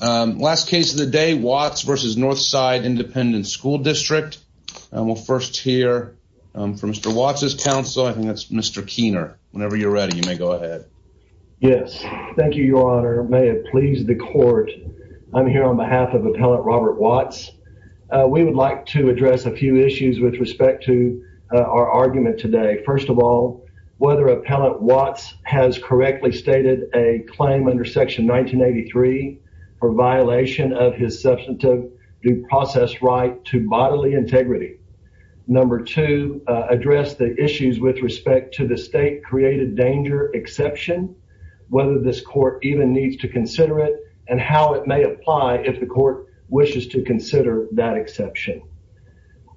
Last case of the day, Watts v. Northside Independent School District. We'll first hear from Mr. Watts' counsel. I think that's Mr. Keener. Whenever you're ready, you may go ahead. Yes, thank you, your honor. May it please the court. I'm here on behalf of Appellant Robert Watts. We would like to address a few issues with respect to our argument today. First of all, whether Appellant Watts has correctly stated a claim under Section 1983 for violation of his substantive due process right to bodily integrity. Number two, address the issues with respect to the state created danger exception, whether this court even needs to consider it and how it may apply if the court wishes to consider that exception.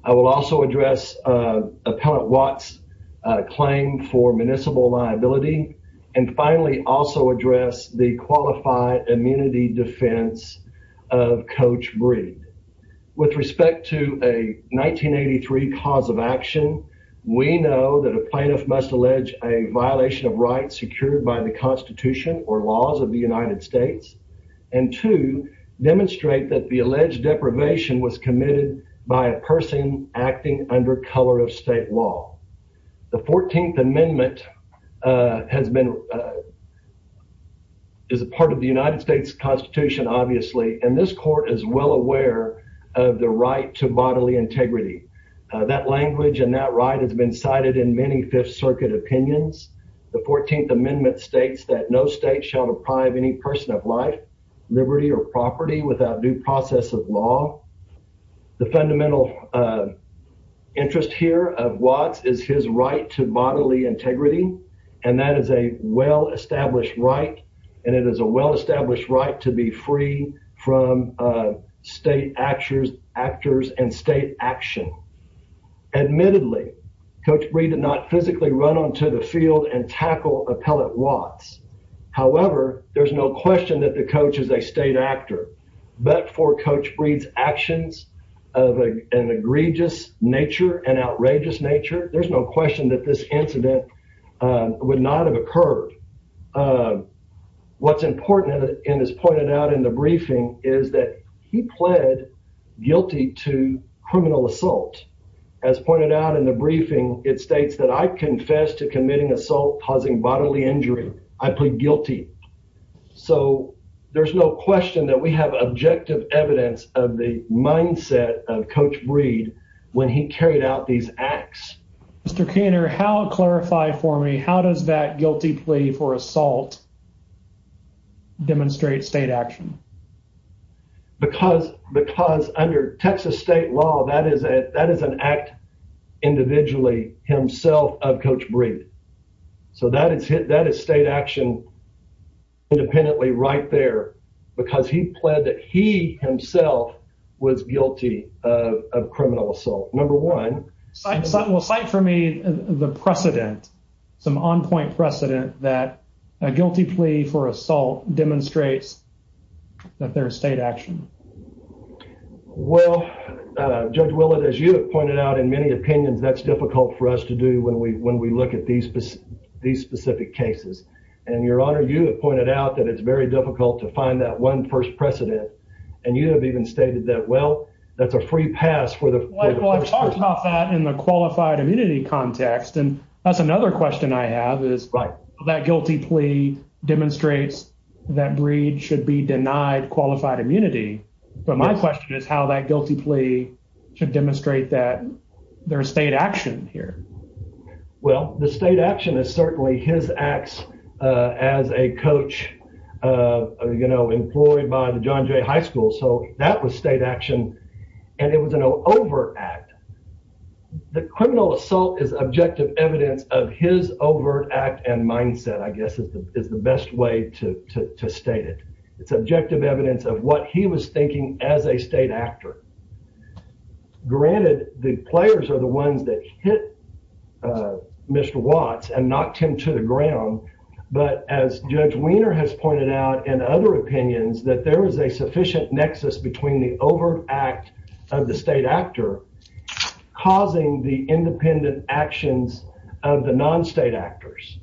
I will also address Appellant Watts' claim for municipal liability and finally also address the qualified immunity defense of Coach Breed. With respect to a 1983 cause of action, we know that a plaintiff must allege a violation of rights secured by the Constitution or laws of the United States and to demonstrate that the alleged deprivation was committed by a person acting under color of state law. The 14th Amendment has been is a part of the United States Constitution, obviously, and this court is well aware of the right to bodily integrity. That language and that right has been cited in many Fifth Circuit opinions. The 14th Amendment states that no state shall deprive any person of life, liberty, or property without due process of law. The fundamental interest here of Watts is his right to bodily integrity, and that is a well-established right, and it is a well-established right to be free from state actors and state action. Admittedly, Coach Breed did not physically run onto the field and tackle Appellant Watts. However, there's no question that the coach is a state actor, but for Coach Breed's actions of an egregious nature and outrageous nature, there's no question that this incident would not have occurred. What's important and is pointed out in the briefing is that he pled guilty to criminal assault. As pointed out in the briefing, it states that I confess to committing assault causing bodily injury. I plead guilty. So there's no question that we have objective evidence of the mindset of Coach Breed when he carried out these acts. Mr. Keener, how, clarify for me, how does that guilty plea for assault demonstrate state action? Because under Texas state law, that is an act individually himself of Coach Breed. So that is state action independently right there because he pled that he himself was guilty of criminal assault. Number one. Well, cite for me the precedent, some on-point precedent that a guilty plea for assault demonstrates that there is state action. Well, Judge Willett, as you have pointed out in many opinions, that's difficult for us to do when we when we look at these specific cases. And Your Honor, you have pointed out that it's very difficult to find that one first precedent. And you have even stated that, well, that's a free pass for the first person. Well, I've talked about that in the qualified immunity context. And that's another question I have is that guilty plea demonstrates that Breed should be denied qualified immunity. But my question is how that guilty plea should demonstrate that there is state action here. Well, the state action is certainly his acts as a coach, you know, employed by the John Jay High School. So that was state action. And it was an overact. The criminal assault is objective evidence of his overt act and mindset, I guess, is the best way to state it. It's objective evidence of what he was thinking as a state actor. Granted, the players are the ones that hit Mr. Watts and knocked him to the ground. But as Judge Wiener has pointed out in other opinions, that there is a sufficient nexus between the overt act of the state actor causing the independent actions of the non-state actors.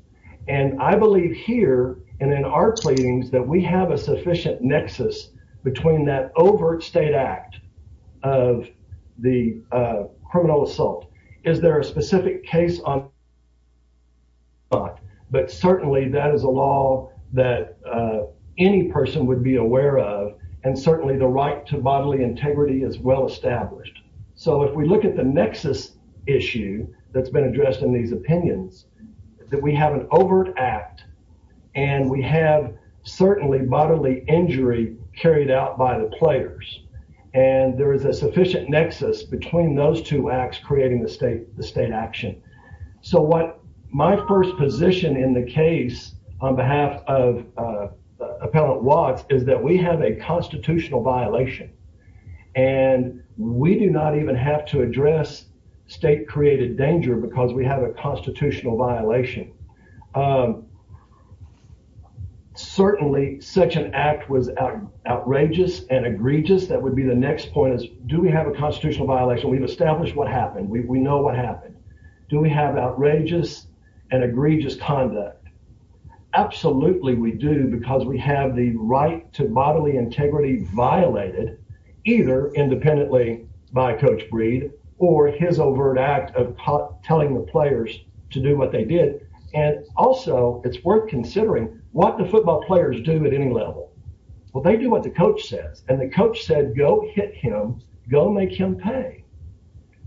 And I believe here and in our claims that we have a sufficient nexus between that overt state act of the criminal assault. Is there a specific case on that? But certainly, that is a law that any person would be aware of. And certainly, the right to bodily integrity is well established. So if we look at the nexus issue that's been addressed in these opinions, that we have an overt act and we have certainly bodily injury carried out by the players. And there is a sufficient nexus between those two acts creating the state action. So what my first position in the case on behalf of Appellant Watts is that we have a constitutional violation. And we do not even have to address state created danger because we have a constitutional violation. Certainly, such an act was outrageous and egregious. That would be the next point is, do we have a constitutional violation? We've established what happened. We know what happened. Do we have outrageous and egregious conduct? Absolutely, we do because we have the right to bodily integrity violated either independently by Coach Breed or his overt act of telling the players to do what they did. And also, it's worth considering what the football players do at any level. Well, they do what the coach says. And the coach said, go hit him, go make him pay.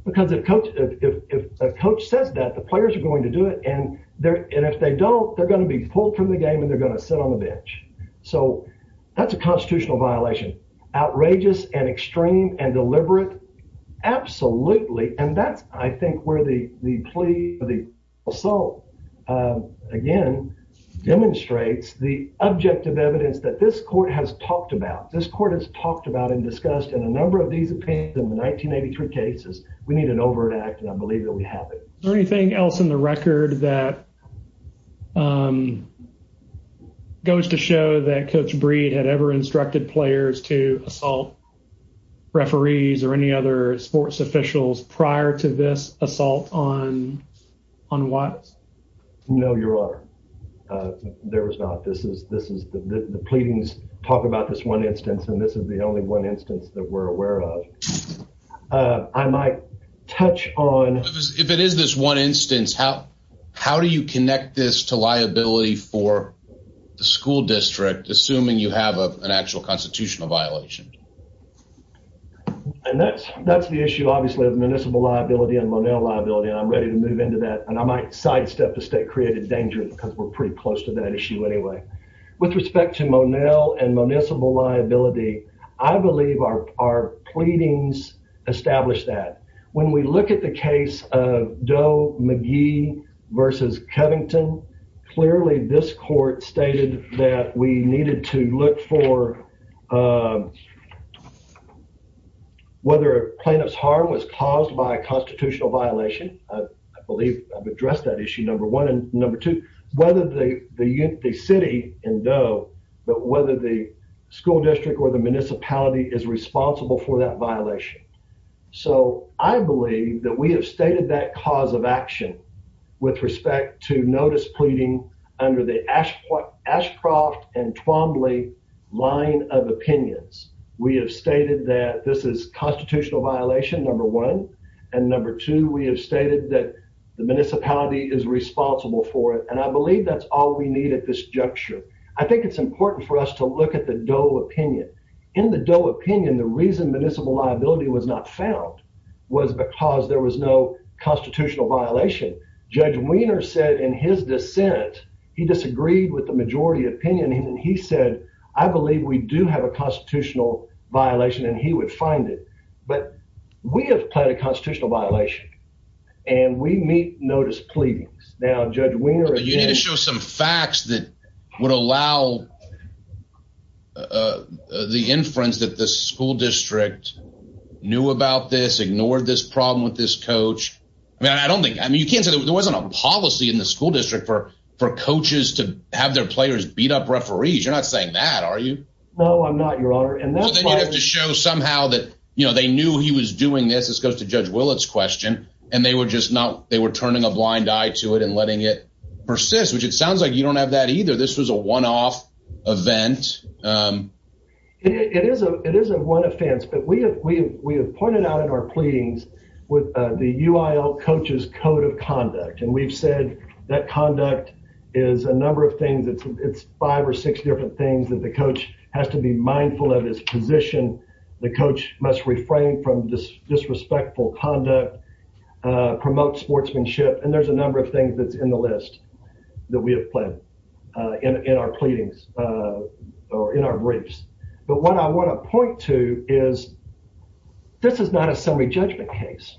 Because if a coach says that, the players are going to do it. And if they don't, they're going to be pulled from the game and they're going to sit on the bench. So that's a constitutional violation. Outrageous and extreme and deliberate, absolutely. And that's, I think, where the plea for the assault, again, demonstrates the objective evidence that this court has talked about. This court has talked about and discussed in a number of these opinions in the 1983 cases. We need an overt act, and I believe that we have it. Is there anything else in the record that goes to show that Coach Breed had ever instructed players to assault referees or any other sports officials prior to this assault on Watts? No, Your Honor. There was not. The pleadings talk about this one instance, and this is the only one instance that we're aware of. I might touch on... If it is this one instance, how do you connect this to liability for the school district, assuming you have an actual constitutional violation? And that's the issue, obviously, of municipal liability and Monell liability, and I'm ready to move into that, and I might sidestep the state-created danger because we're pretty close to that issue anyway. With respect to Monell and municipal liability, I believe our pleadings established that. When we look at the case of Doe-McGee versus Covington, clearly this court stated that we needed to look for whether a plaintiff's harm was caused by a constitutional violation. I believe I've addressed that issue, number one, and number two, whether the city in Doe, but whether the school district or the municipality is responsible for that violation. So I believe that we have stated that cause of action with respect to notice pleading under the Ashcroft and Twombly line of opinions. We have stated that this is constitutional violation, number one, and number two, we have stated that the municipality is responsible for it, and I believe that's all we need at this juncture. I think it's important for us to look at the Doe opinion. In the Doe opinion, the reason municipal liability was not found was because there was no constitutional violation. Judge Wiener said in his dissent, he disagreed with the majority opinion, and he said, I believe we do have a constitutional violation, and he would find it. But we have pled a constitutional violation, and we meet notice pleadings. Now, Judge Wiener... But you need to show some facts that would allow the inference that the school district knew about this, ignored this problem with this coach. I mean, I don't think... I mean, you can't say there wasn't a policy in the school district for coaches to have their players beat up referees. You're not saying that, are you? No, I'm not, Your Honor. Well, then you'd have to show somehow that, you know, they knew he was doing this. This goes to Judge Willett's question, and they were just not... they were turning a blind eye to it and letting it persist, which it sounds like you don't have that either. This was a one-off event. It is a one-off event, but we have pointed out in our pleadings with the UIL coach's code of conduct, and we've said that conduct is a number of things. It's five or six different things that the coach has to be mindful of his position. The coach must refrain from disrespectful conduct, promote sportsmanship, and there's a number of things that's in the list that we have pledged in our pleadings or in our briefs, but what I want to point to is this is not a summary judgment case.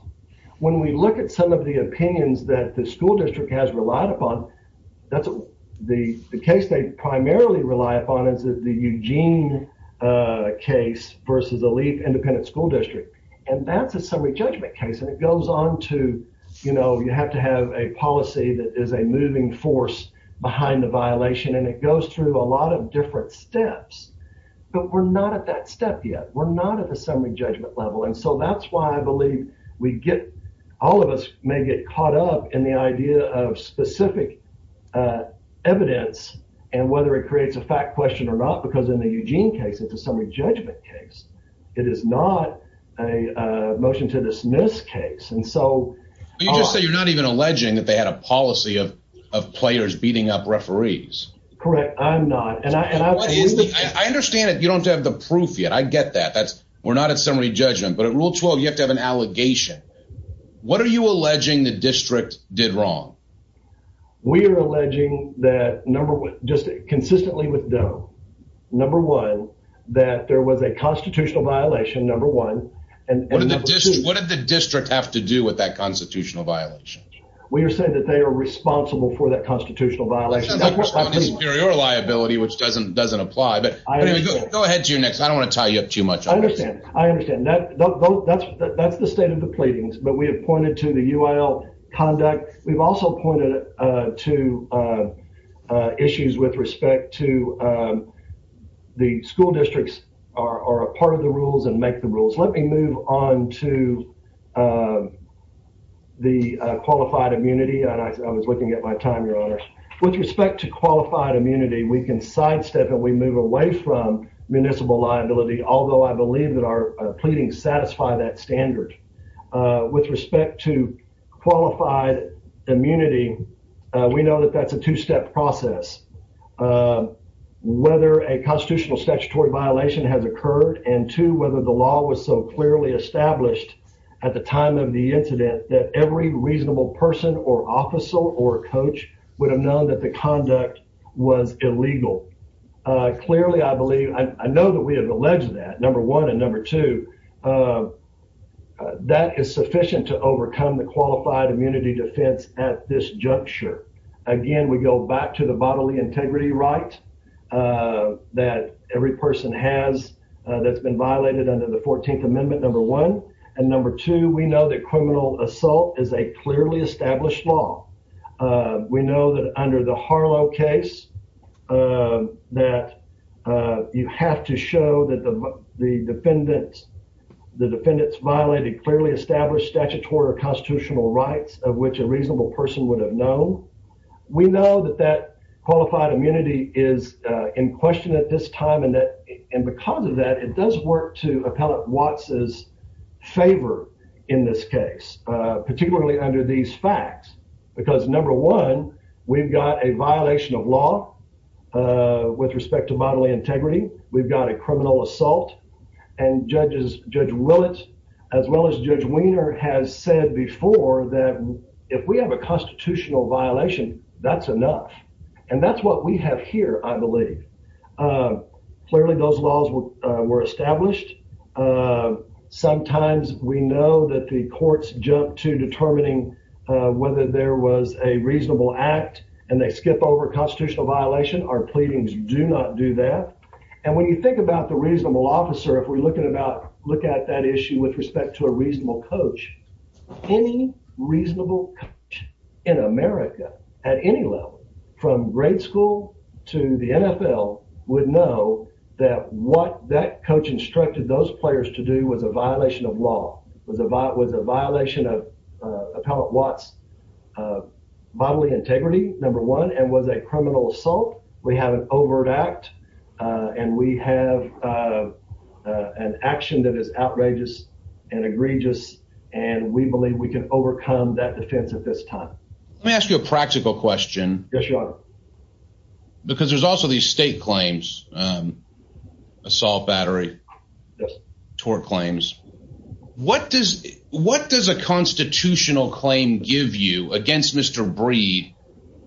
When we look at some of the opinions that the school district has relied upon, that's the case they primarily rely upon is the Eugene case versus the League Independent School District, and that's a summary judgment case, and it goes on to, you know, you have to have a policy that is a moving force behind the violation, and it goes through a lot of different steps, but we're not at that step yet. We're not at the summary judgment level, and so that's why I believe we get... all of us may get caught up in the idea of specific evidence and whether it creates a fact question or not, because in the Eugene case, it's a summary judgment case. It is not a motion to dismiss case, and so... You just say you're not even alleging that they had a policy of players beating up referees. Correct. I'm not, and I... I understand that you don't have the proof yet. I get that. That's... we're not at summary judgment, but at Rule 12, you have to have an allegation. What are you alleging the district did wrong? We are alleging that, number one, just consistently with Doe. Number one, that there was a constitutional violation, number one, and number two... What did the district have to do with that constitutional violation? We are saying that they are responsible for that constitutional violation. Sounds like a superior liability, which doesn't apply, but anyway, go ahead to your next. I don't want to tie you up too much on this. I understand. I understand. That's the state of the pleadings, but we have pointed to the UIL conduct. We've also pointed to issues with respect to the school districts are a part of the rules and make the rules. Let me move on to the qualified immunity, and I was looking at my time, Your Honor. With respect to qualified immunity, we can sidestep and we move away from municipal liability, although I believe that our qualified immunity, we know that that's a two-step process. Whether a constitutional statutory violation has occurred and two, whether the law was so clearly established at the time of the incident that every reasonable person or officer or coach would have known that the conduct was illegal. Clearly, I believe, I know that we have alleged that, number one, and number two, that is sufficient to overcome the qualified immunity defense at this juncture. Again, we go back to the bodily integrity right that every person has that's been violated under the 14th Amendment, number one, and number two, we know that criminal assault is a clearly the defendants violated clearly established statutory or constitutional rights of which a reasonable person would have known. We know that that qualified immunity is in question at this time, and because of that, it does work to appellate Watts' favor in this case, particularly under these facts, because number one, we've got a violation of law with respect to bodily integrity. We've got a criminal assault, and Judge Willett as well as Judge Weiner has said before that if we have a constitutional violation, that's enough, and that's what we have here, I believe. Clearly, those laws were established. Sometimes we know that the courts jump to determining whether there was a reasonable act and they skip over a constitutional violation. Our pleadings do not do that, and when you think about the reasonable officer, if we look at that issue with respect to a reasonable coach, any reasonable coach in America at any level from grade school to the NFL would know that what that coach instructed those players to do was a violation of law, was a violation of Appellate Watts' bodily integrity, number one, and was a criminal assault. We have an overt act, and we have an action that is outrageous and egregious, and we believe we can overcome that defense at this time. Let me ask you a practical question. Yes, Your Honor. Because there's also these state claims, assault battery tort claims. What does a constitutional claim give you against Mr. Breed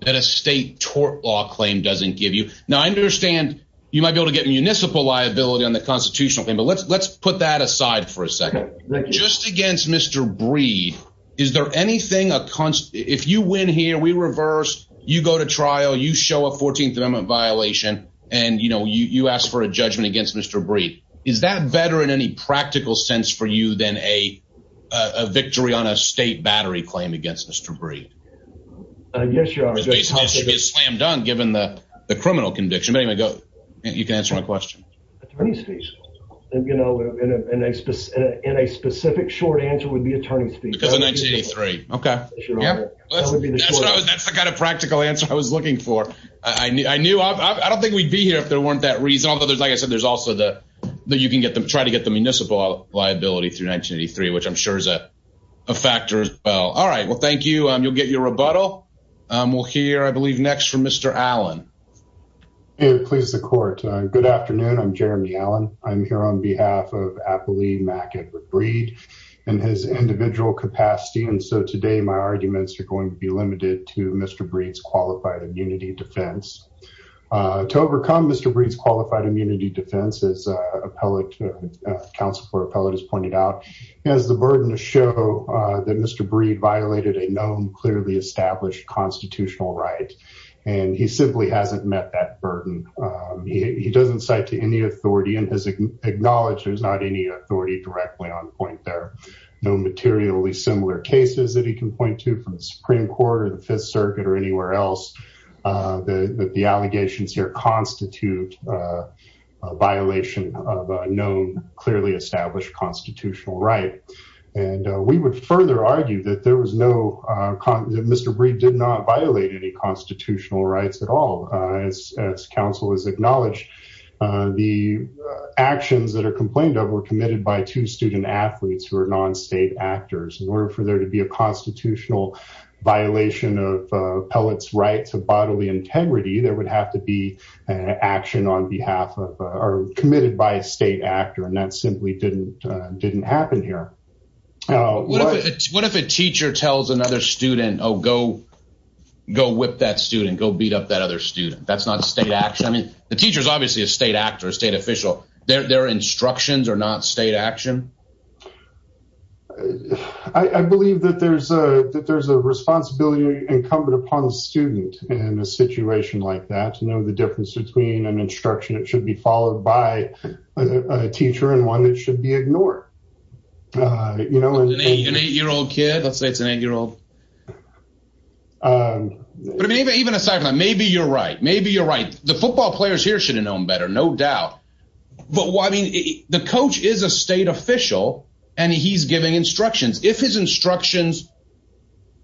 that a state tort law claim doesn't give you? Now, I understand you might be able to get a municipal liability on the constitutional claim, but let's put that aside for a second. Just against Mr. Breed, is there anything, if you win here, we reverse, you go to trial, you show a 14th Amendment violation, and you ask for a judgment against Mr. Breed. Is that better in any practical sense for you than a victory on a state battery claim against Mr. Breed? Yes, Your Honor. It should be a slam dunk given the criminal conviction. You can answer my question. In a specific short answer would be attorney's fees. Because of 1983. Okay. That's the kind of practical answer I was looking for. I don't think we'd be here if there was a municipal liability through 1983, which I'm sure is a factor as well. All right. Well, thank you. You'll get your rebuttal. We'll hear, I believe, next from Mr. Allen. It pleases the court. Good afternoon. I'm Jeremy Allen. I'm here on behalf of Appali Mack Edward Breed and his individual capacity. And so today my arguments are going to be limited to Mr. Breed's immunity defense. As appellate counsel for appellate has pointed out, he has the burden to show that Mr. Breed violated a known, clearly established constitutional right. And he simply hasn't met that burden. He doesn't cite to any authority and has acknowledged there's not any authority directly on point there. No materially similar cases that he can point to from the Supreme Court or the Fifth Circuit or anywhere else that the allegations here constitute a violation of a known, clearly established constitutional right. And we would further argue that there was no, that Mr. Breed did not violate any constitutional rights at all. As counsel has acknowledged, the actions that are complained of were committed by two student athletes who are non-state actors. In order for there to be a constitutional violation of action on behalf of, or committed by a state actor, and that simply didn't happen here. What if a teacher tells another student, oh, go whip that student, go beat up that other student. That's not state action. I mean, the teacher is obviously a state actor, a state official. Their instructions are not state action. I believe that there's a responsibility incumbent student in a situation like that to know the difference between an instruction that should be followed by a teacher and one that should be ignored. You know, an eight year old kid, let's say it's an eight year old. But maybe even aside from that, maybe you're right, maybe you're right. The football players here should have known better, no doubt. But I mean, the coach is a state official and he's giving instructions. If his instructions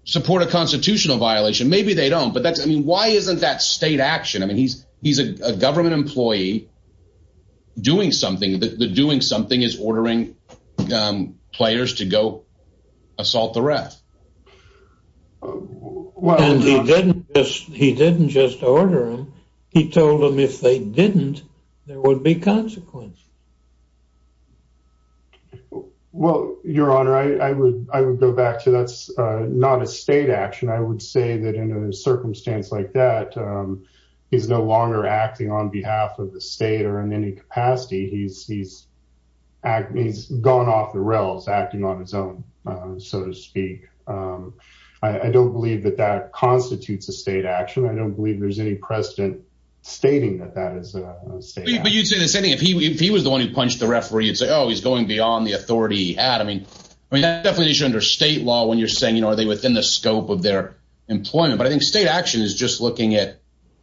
support a constitutional violation, maybe they don't. But that's, I mean, why isn't that state action? I mean, he's a government employee doing something. The doing something is ordering players to go assault the ref. He didn't just order them. He told them if they didn't, there would be consequence. Well, your honor, I would go back to that's not a state action. I would say that in a circumstance like that, he's no longer acting on behalf of the state or in any capacity. He's gone off the rails acting on his own, so to speak. I don't believe that that constitutes a state action. I don't believe there's any precedent stating that that is a state. But you'd say the same thing if he was the one who punched the referee, you'd say, oh, he's going beyond the authority he had. I mean, I mean, that's definitely under state law when you're saying, you know, are they within the scope of their employment? But I think state action is just looking at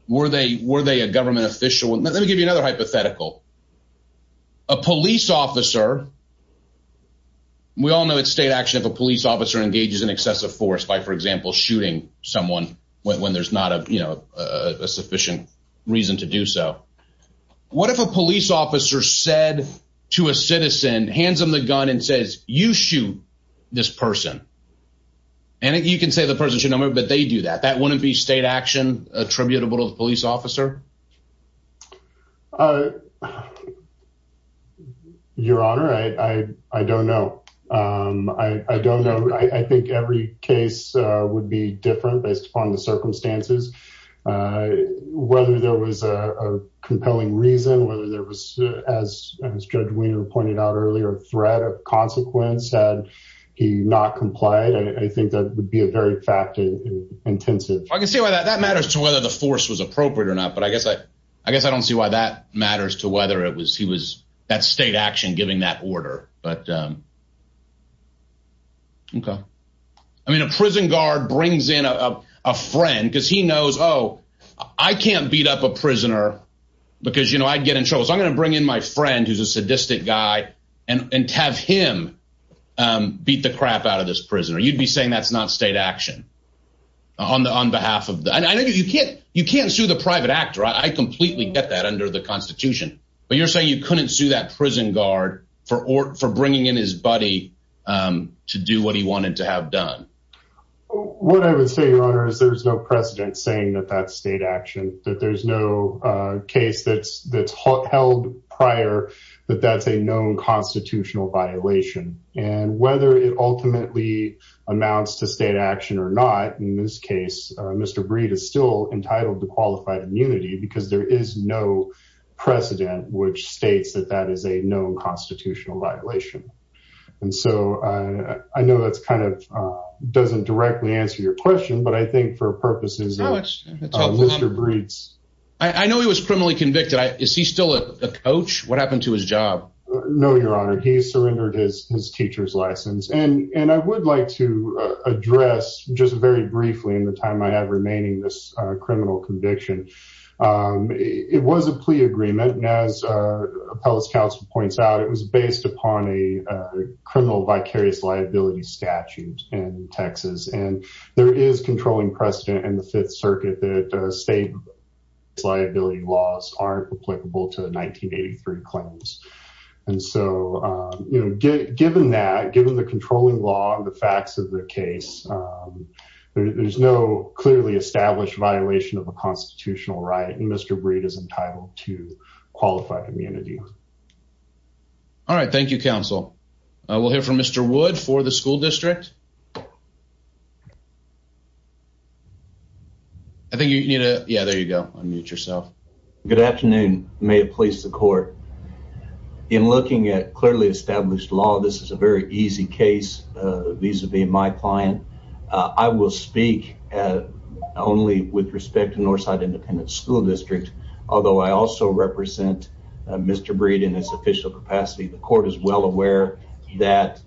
were they were they a government official? Let me give you another hypothetical. A police officer. We all know it's state action if a police officer engages in excessive force by, for example, shooting someone when there's not a sufficient reason to do so. What if a police officer said to a citizen, hands him the gun and says you shoot this person? And you can say the person should know, but they do that. That wouldn't be state action attributable to the police officer. Your honor, I don't know. I don't know. I think every case would be different based upon the circumstances, whether there was a compelling reason, whether there was, as Judge Wiener pointed out earlier, a threat of consequence had he not complied. I think that would be a very fact intensive. I can see why that matters to whether the force was appropriate or not. But I guess I guess I don't see why that matters to whether it was he was that state action giving that order. But. OK, I mean, a prison guard brings in a friend because he knows, oh, I can't beat up a prisoner because, you know, I'd get in trouble. So I'm going to bring in my friend who's a sadistic guy and have him beat the crap out of this prisoner. You'd be saying that's not state action on the on behalf of the I know you can't you can't sue the private actor. I completely get that under the Constitution. But you're saying you couldn't sue that prison guard for or for bringing in his buddy to do what he wanted to have done. What I would say, your honor, is there's no precedent saying that that's state action, that there's no case that's that's held prior, that that's a known constitutional violation and whether it ultimately amounts to state action or not. In this case, Mr. Breed is still entitled to qualified immunity because there is no precedent which states that that is a known constitutional violation. And so I know that's kind of doesn't directly answer your question, but I think for purposes of Mr. Breed's, I know he was criminally convicted. Is he still a coach? What happened to his job? No, your honor. He surrendered his teacher's license. And I would like to address just very briefly in the time I have remaining this criminal conviction. It was a plea agreement, and as appellate counsel points out, it was based upon a criminal vicarious liability statute in Texas. And there is controlling precedent in the Fifth Circuit that state liability laws aren't applicable to the 1983 claims. And so, you know, given that, given the controlling law and the there's no clearly established violation of a constitutional right, and Mr. Breed is entitled to qualified immunity. All right. Thank you, counsel. We'll hear from Mr. Wood for the school district. I think you need to. Yeah, there you go. Unmute yourself. Good afternoon. May it please the court. In looking at clearly established law, this is a very easy case vis-a-vis my client. I will speak only with respect to Northside Independent School District, although I also represent Mr. Breed in his official capacity. The court is well aware that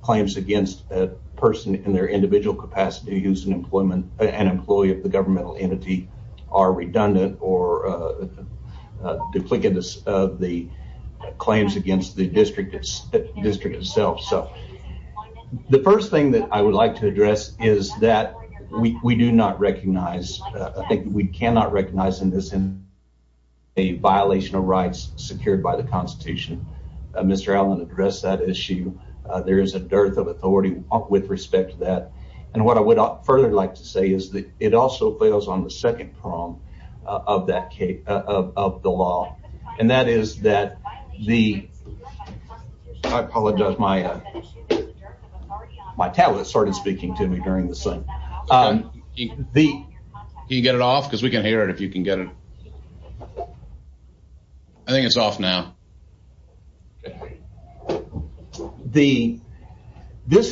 claims against a person in their individual capacity who's an employee of the governmental entity are redundant or duplicitous of the claims against the district itself. So the first thing that I would like to address is that we do not recognize I think we cannot recognize in this in a violation of rights secured by the Constitution. Mr. Allen addressed that issue. There is a dearth of authority with respect to that. And what I would further like to say is that it also fails on the second prong of that case of the law. And that is that the I apologize my tablet started speaking to me during this thing. Can you get it off? Because we can hear it if you can get it. I think it's off now. This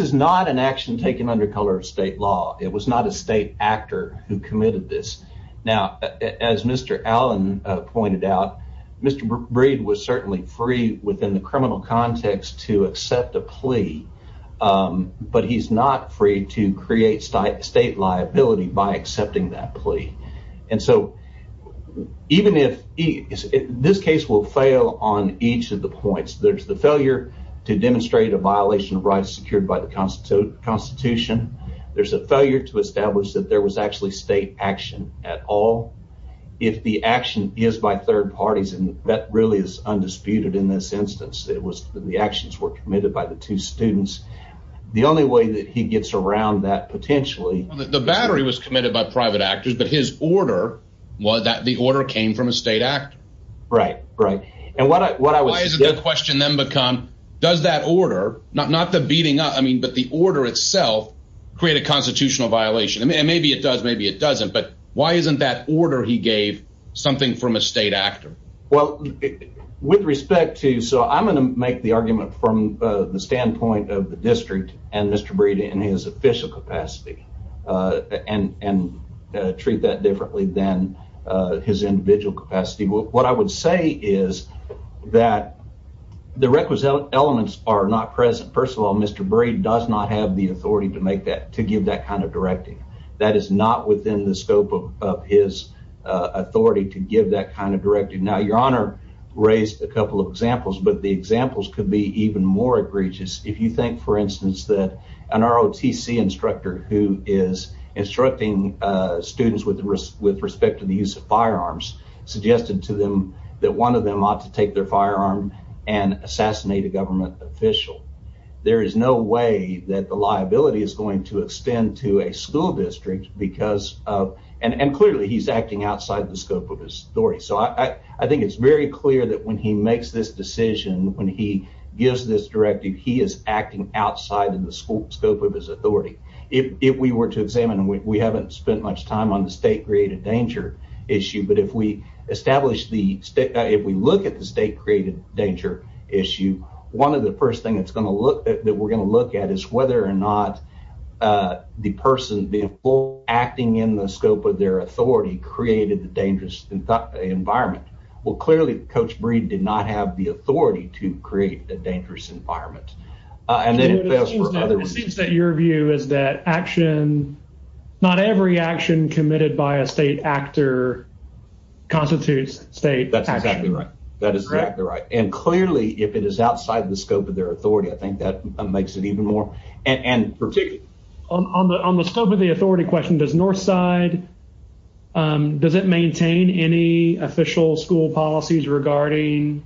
is not an action taken under color of state law. It was not a state actor who committed this. Now, as Mr. Allen pointed out, Mr. Breed was free within the criminal context to accept a plea. But he's not free to create state liability by accepting that plea. And so even if this case will fail on each of the points, there's the failure to demonstrate a violation of rights secured by the Constitution. There's a failure to establish that there was actually state action at all. If the action is by third parties, and that really is undisputed in this instance, it was the actions were committed by the two students. The only way that he gets around that potentially the battery was committed by private actors, but his order was that the order came from a state act. Right, right. And what I what I was question then become, does that order not not the beating up? I mean, but the order itself create a constitutional violation. And maybe it does, maybe it doesn't. But why isn't that order he gave something from a state actor? Well, with respect to so I'm going to make the argument from the standpoint of the district and Mr. Breed in his official capacity and and treat that differently than his individual capacity. What I would say is that the requisite elements are not present. First of all, Mr. Breed does not have the authority to make that to give that kind of directing. That is not within the scope of his authority to give that kind of directing. Now, Your Honor raised a couple of examples, but the examples could be even more egregious. If you think, for instance, that an ROTC instructor who is instructing students with the risk with respect to the use of firearms suggested to them that one of them ought to take their firearm and assassinate a government official. There is no way that the liability is to extend to a school district because of and clearly he's acting outside the scope of his story. So I think it's very clear that when he makes this decision, when he gives this directive, he is acting outside of the scope of his authority. If we were to examine and we haven't spent much time on the state created danger issue. But if we establish the state, if we look at the state created danger issue, one of the first thing that's going to look that we're going to look at is whether or not the person being full acting in the scope of their authority created the dangerous environment. Well, clearly, Coach Breed did not have the authority to create a dangerous environment. And then it seems that your view is that action, not every action committed by a state actor constitutes state. That's exactly right. That is correct. And clearly, if it is outside the scope of their authority, I think that makes it even more. And on the on the scope of the authority question, does Northside, does it maintain any official school policies regarding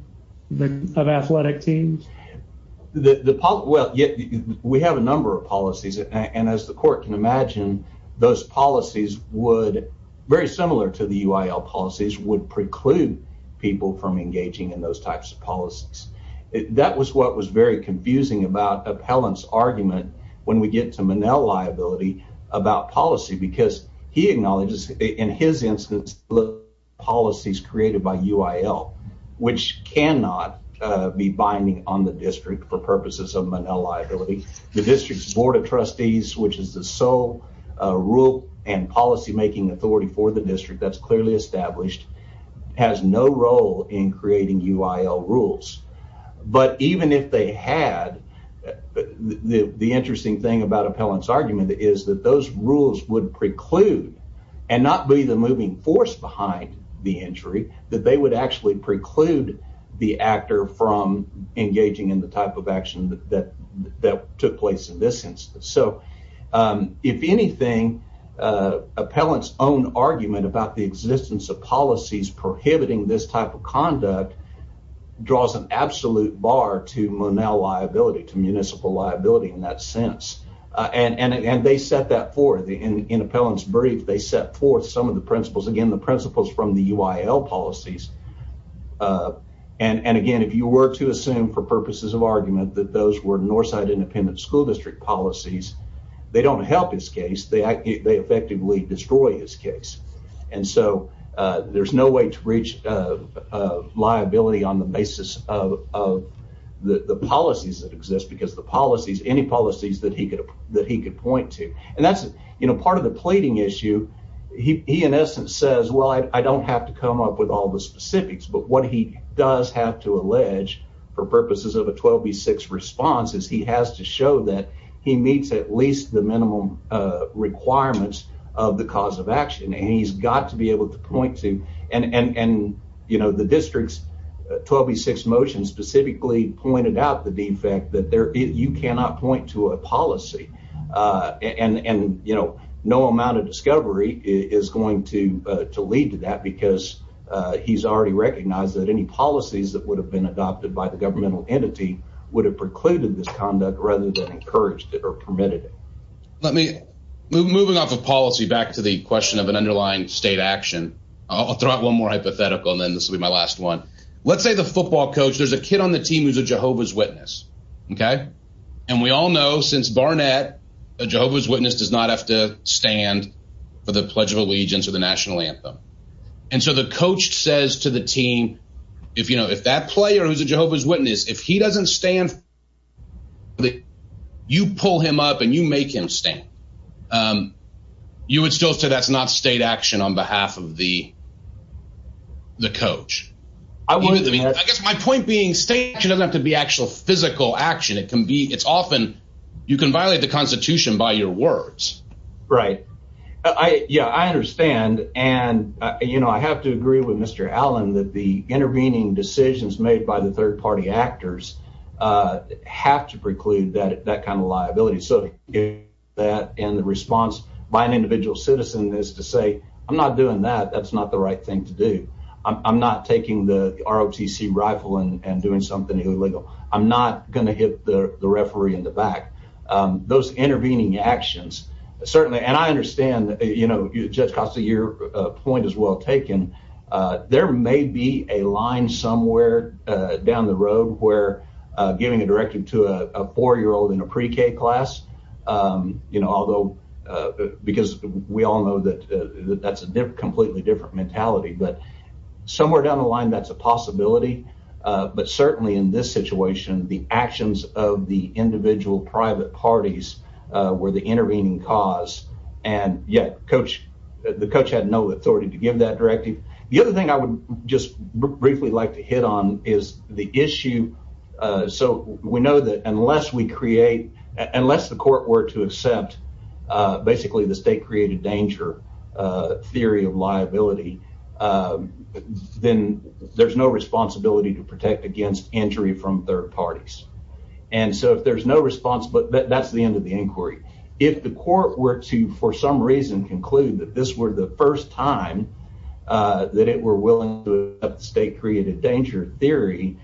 the of athletic teams? Well, we have a number of policies. And as the court can imagine, those policies would very similar to the UIL policies would preclude people from engaging in those types of policies. That was what was very confusing about Appellant's argument when we get to Manel liability about policy, because he acknowledges in his instance, policies created by UIL, which cannot be binding on the district for purposes of Manel liability. The district's Board of Trustees, which is the sole rule and policymaking authority for the UIL rules. But even if they had, the interesting thing about Appellant's argument is that those rules would preclude and not be the moving force behind the injury, that they would actually preclude the actor from engaging in the type of action that that took place in this instance. So draws an absolute bar to Manel liability to municipal liability in that sense. And they set that for the in Appellant's brief, they set forth some of the principles, again, the principles from the UIL policies. And again, if you were to assume for purposes of argument that those were Northside independent school district policies, they don't help his case, they effectively destroy his case. And so there's no way to reach liability on the basis of the policies that exist, because the policies, any policies that he could point to. And that's, you know, part of the pleading issue, he in essence says, well, I don't have to come up with all the specifics, but what he does have to allege for purposes of a 12B6 response is he has to show that he meets at least the minimum requirements of the cause of action. And he's got to be able to point to and, you know, the district's 12B6 motion specifically pointed out the defect that there, you cannot point to a policy. And, you know, no amount of discovery is going to lead to that, because he's already recognized that any policies that would have been adopted by the governmental entity would have this conduct rather than encouraged it or permitted it. Let me move moving off of policy back to the question of an underlying state action. I'll throw out one more hypothetical, and then this will be my last one. Let's say the football coach, there's a kid on the team who's a Jehovah's Witness. Okay. And we all know since Barnett, a Jehovah's Witness does not have to stand for the Pledge of Allegiance or the national anthem. And so the coach says to the team, if you know if that player who's a Jehovah's Witness, if he doesn't stand, you pull him up and you make him stand. You would still say that's not state action on behalf of the coach. I guess my point being state doesn't have to be actual physical action. It can be it's often you can violate the Constitution by your words. Right. Yeah, I understand. And, you know, I have to agree with Mr. Allen that the actors have to preclude that that kind of liability. So that in the response by an individual citizen is to say, I'm not doing that. That's not the right thing to do. I'm not taking the ROTC rifle and doing something illegal. I'm not going to hit the referee in the back. Those intervening actions certainly. And I understand, you know, Judge Costa, your point is well taken. There may be a line somewhere down the road where giving a directive to a four year old in a pre-K class, you know, although because we all know that that's a completely different mentality, but somewhere down the line, that's a possibility. But certainly in this situation, the actions of the individual private parties were the intervening cause. And yet coach, the coach had no authority to give that directive. The other thing I would just briefly like to hit on is the issue. So we know that unless we create unless the court were to accept basically the state created danger theory of liability, then there's no responsibility to protect against injury from third parties. And so if there's no response, but that's the end of the inquiry. If the court were to for some reason conclude that this were the first time that it were willing to state created danger theory,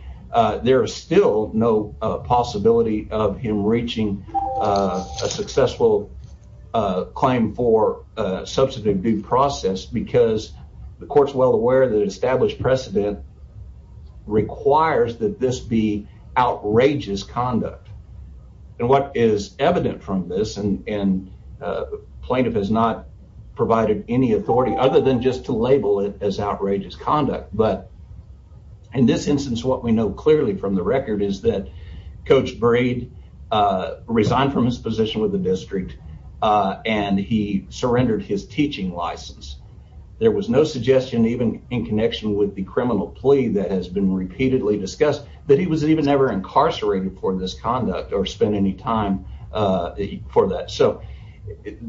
there is still no possibility of him reaching a successful claim for substantive due process because the court's well aware that established precedent requires that this be outrageous conduct. And what is evident from this and plaintiff has not provided any authority other than just to label it as outrageous conduct. But in this instance, what we know clearly from the record is that coach Braid resigned from his position with the district and he surrendered his teaching license. There was no suggestion even in connection with the criminal plea that has been repeatedly discussed that he was even never incarcerated for this conduct or spend any time for that. So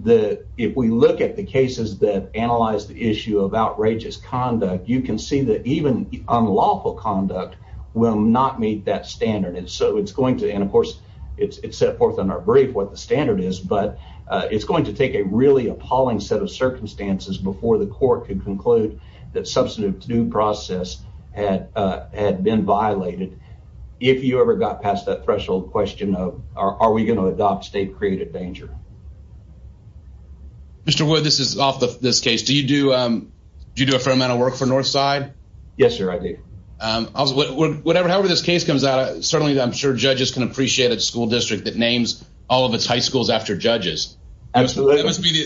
the if we look at the cases that analyze the issue of outrageous conduct, you can see that even unlawful conduct will not meet that standard. And so it's going to. And of course, it's set forth in our brief what the standard is, but it's going to take a really appalling set of if you ever got past that threshold question of are we going to adopt state created danger. Mr. Wood, this is off this case. Do you do a fair amount of work for Northside? Yes, sir. I do. However, this case comes out, certainly I'm sure judges can appreciate a school district that names all of its high schools after judges. Absolutely.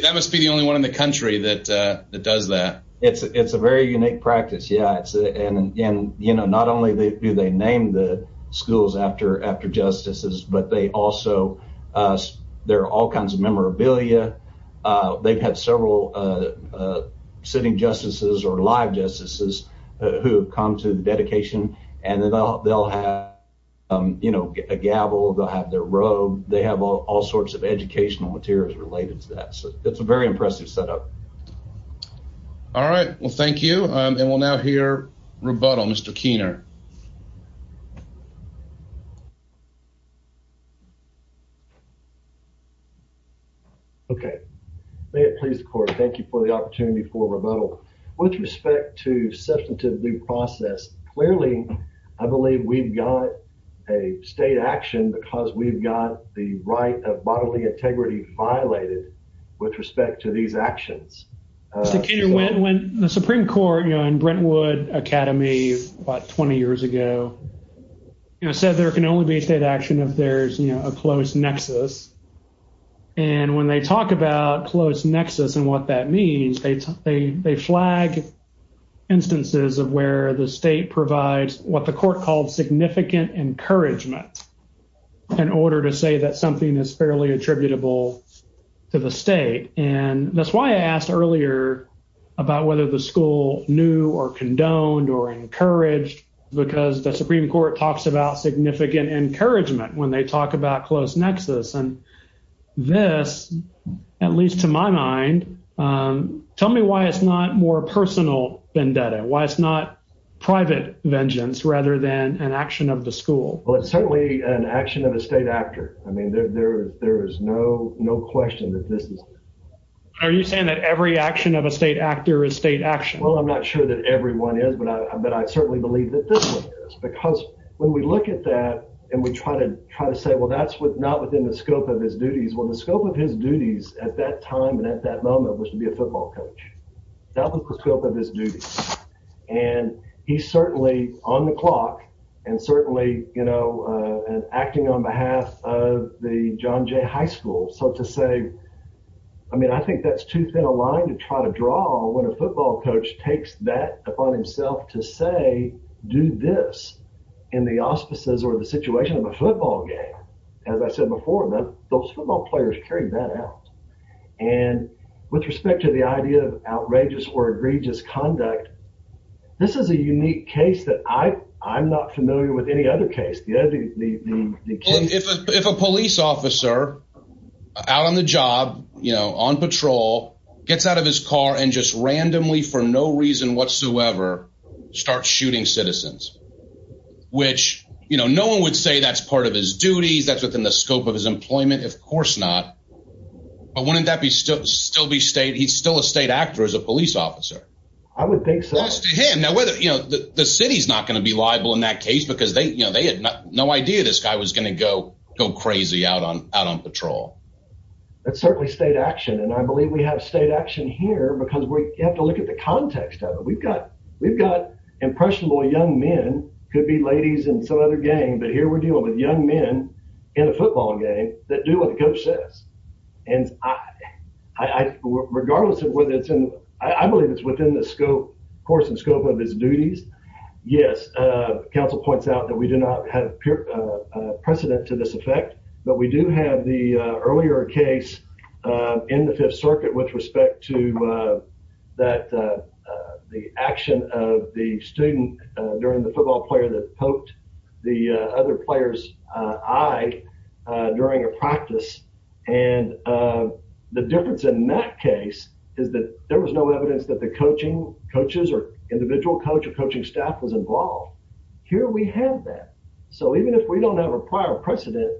That must be the only one in the country that does that. It's a very unique practice. Yeah. And, you know, not only do they name the schools after after justices, but they also there are all kinds of memorabilia. They've had several sitting justices or live justices who have come to the dedication and they'll have, you know, a gavel. They'll have their robe. They have all sorts of educational materials related to that. So it's a very impressive setup. All right. Well, thank you. And we'll now hear rebuttal. Mr. Keener. Okay. May it please the court. Thank you for the opportunity for rebuttal. With respect to substantive due process, clearly I believe we've got a state action because we've got the right of bodily integrity violated with respect to these actions. Mr. Keener, when the Supreme Court, you know, in Brentwood Academy about 20 years ago, you know, said there can only be state action if there's a close nexus. And when they talk about close nexus and what that means, they flag instances of where the state provides what the court called significant encouragement in order to say that something is attributable to the state. And that's why I asked earlier about whether the school knew or condoned or encouraged because the Supreme Court talks about significant encouragement when they talk about close nexus. And this, at least to my mind, tell me why it's not more personal vendetta, why it's not private vengeance rather than an action of the school. Well, it's certainly an estate actor. I mean, there is no question that this is. Are you saying that every action of a state actor is state action? Well, I'm not sure that everyone is, but I certainly believe that this one is because when we look at that and we try to try to say, well, that's not within the scope of his duties. Well, the scope of his duties at that time and at that moment was to be a football coach. That was the scope of his duties. And he certainly on the clock and certainly, you know, and acting on behalf of the John Jay High School. So to say, I mean, I think that's too thin a line to try to draw when a football coach takes that upon himself to say, do this in the auspices or the situation of a football game. As I said before, those football players carried that out. And with respect to the idea of outrageous or egregious conduct, this is a unique case that I I'm not familiar with any other case. If a police officer out on the job, you know, on patrol gets out of his car and just randomly, for no reason whatsoever, start shooting citizens, which, you know, no one would say that's part of his duties. That's within the scope of his employment. Of course not. But wouldn't that be still still be state? He's still a state actor as a police officer. I would think so. Now, whether you know, the city is not going to be liable in that case because they you know, they had no idea this guy was going to go go crazy out on out on patrol. That's certainly state action. And I believe we have state action here because we have to look at the context of it. We've got we've got impressionable young men could be ladies in some other game. But here we're dealing with young men in a football game that do what the coach says. And I, regardless of whether it's in, I believe it's within the scope, course and scope of his duties. Yes. Council points out that we do not have a precedent to this effect. But we do have the earlier case in the Fifth Circuit with respect to that, the action of the student during the and the difference in that case is that there was no evidence that the coaching coaches or individual coach or coaching staff was involved. Here we have that. So even if we don't have a prior precedent,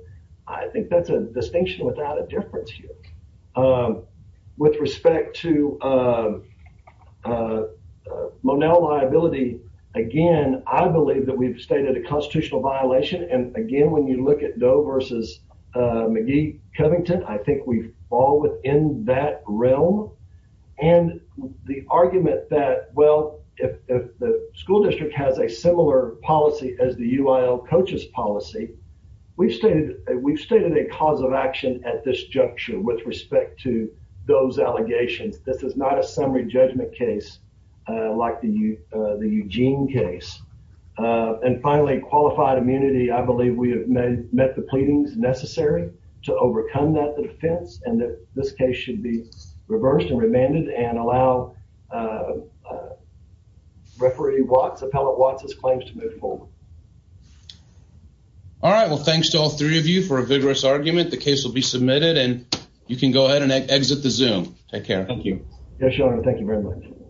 I think that's a distinction without a difference here with respect to Monell liability. Again, I believe that we've stated a constitutional violation. And again, when you look at Doe versus McGee Covington, I think we fall within that realm. And the argument that, well, if the school district has a similar policy as the UIL coaches policy, we've stated we've stated a cause of action at this juncture with respect to those allegations. This is not summary judgment case like the Eugene case. And finally, qualified immunity. I believe we have met the pleadings necessary to overcome that defense and that this case should be reversed and remanded and allow referee Watts, Appellate Watts' claims to move forward. All right. Well, thanks to all three of you for a vigorous argument. The case will be submitted and you can go ahead and exit the Zoom. Take care. Thank you. Yes, Your Honor. Thank you very much.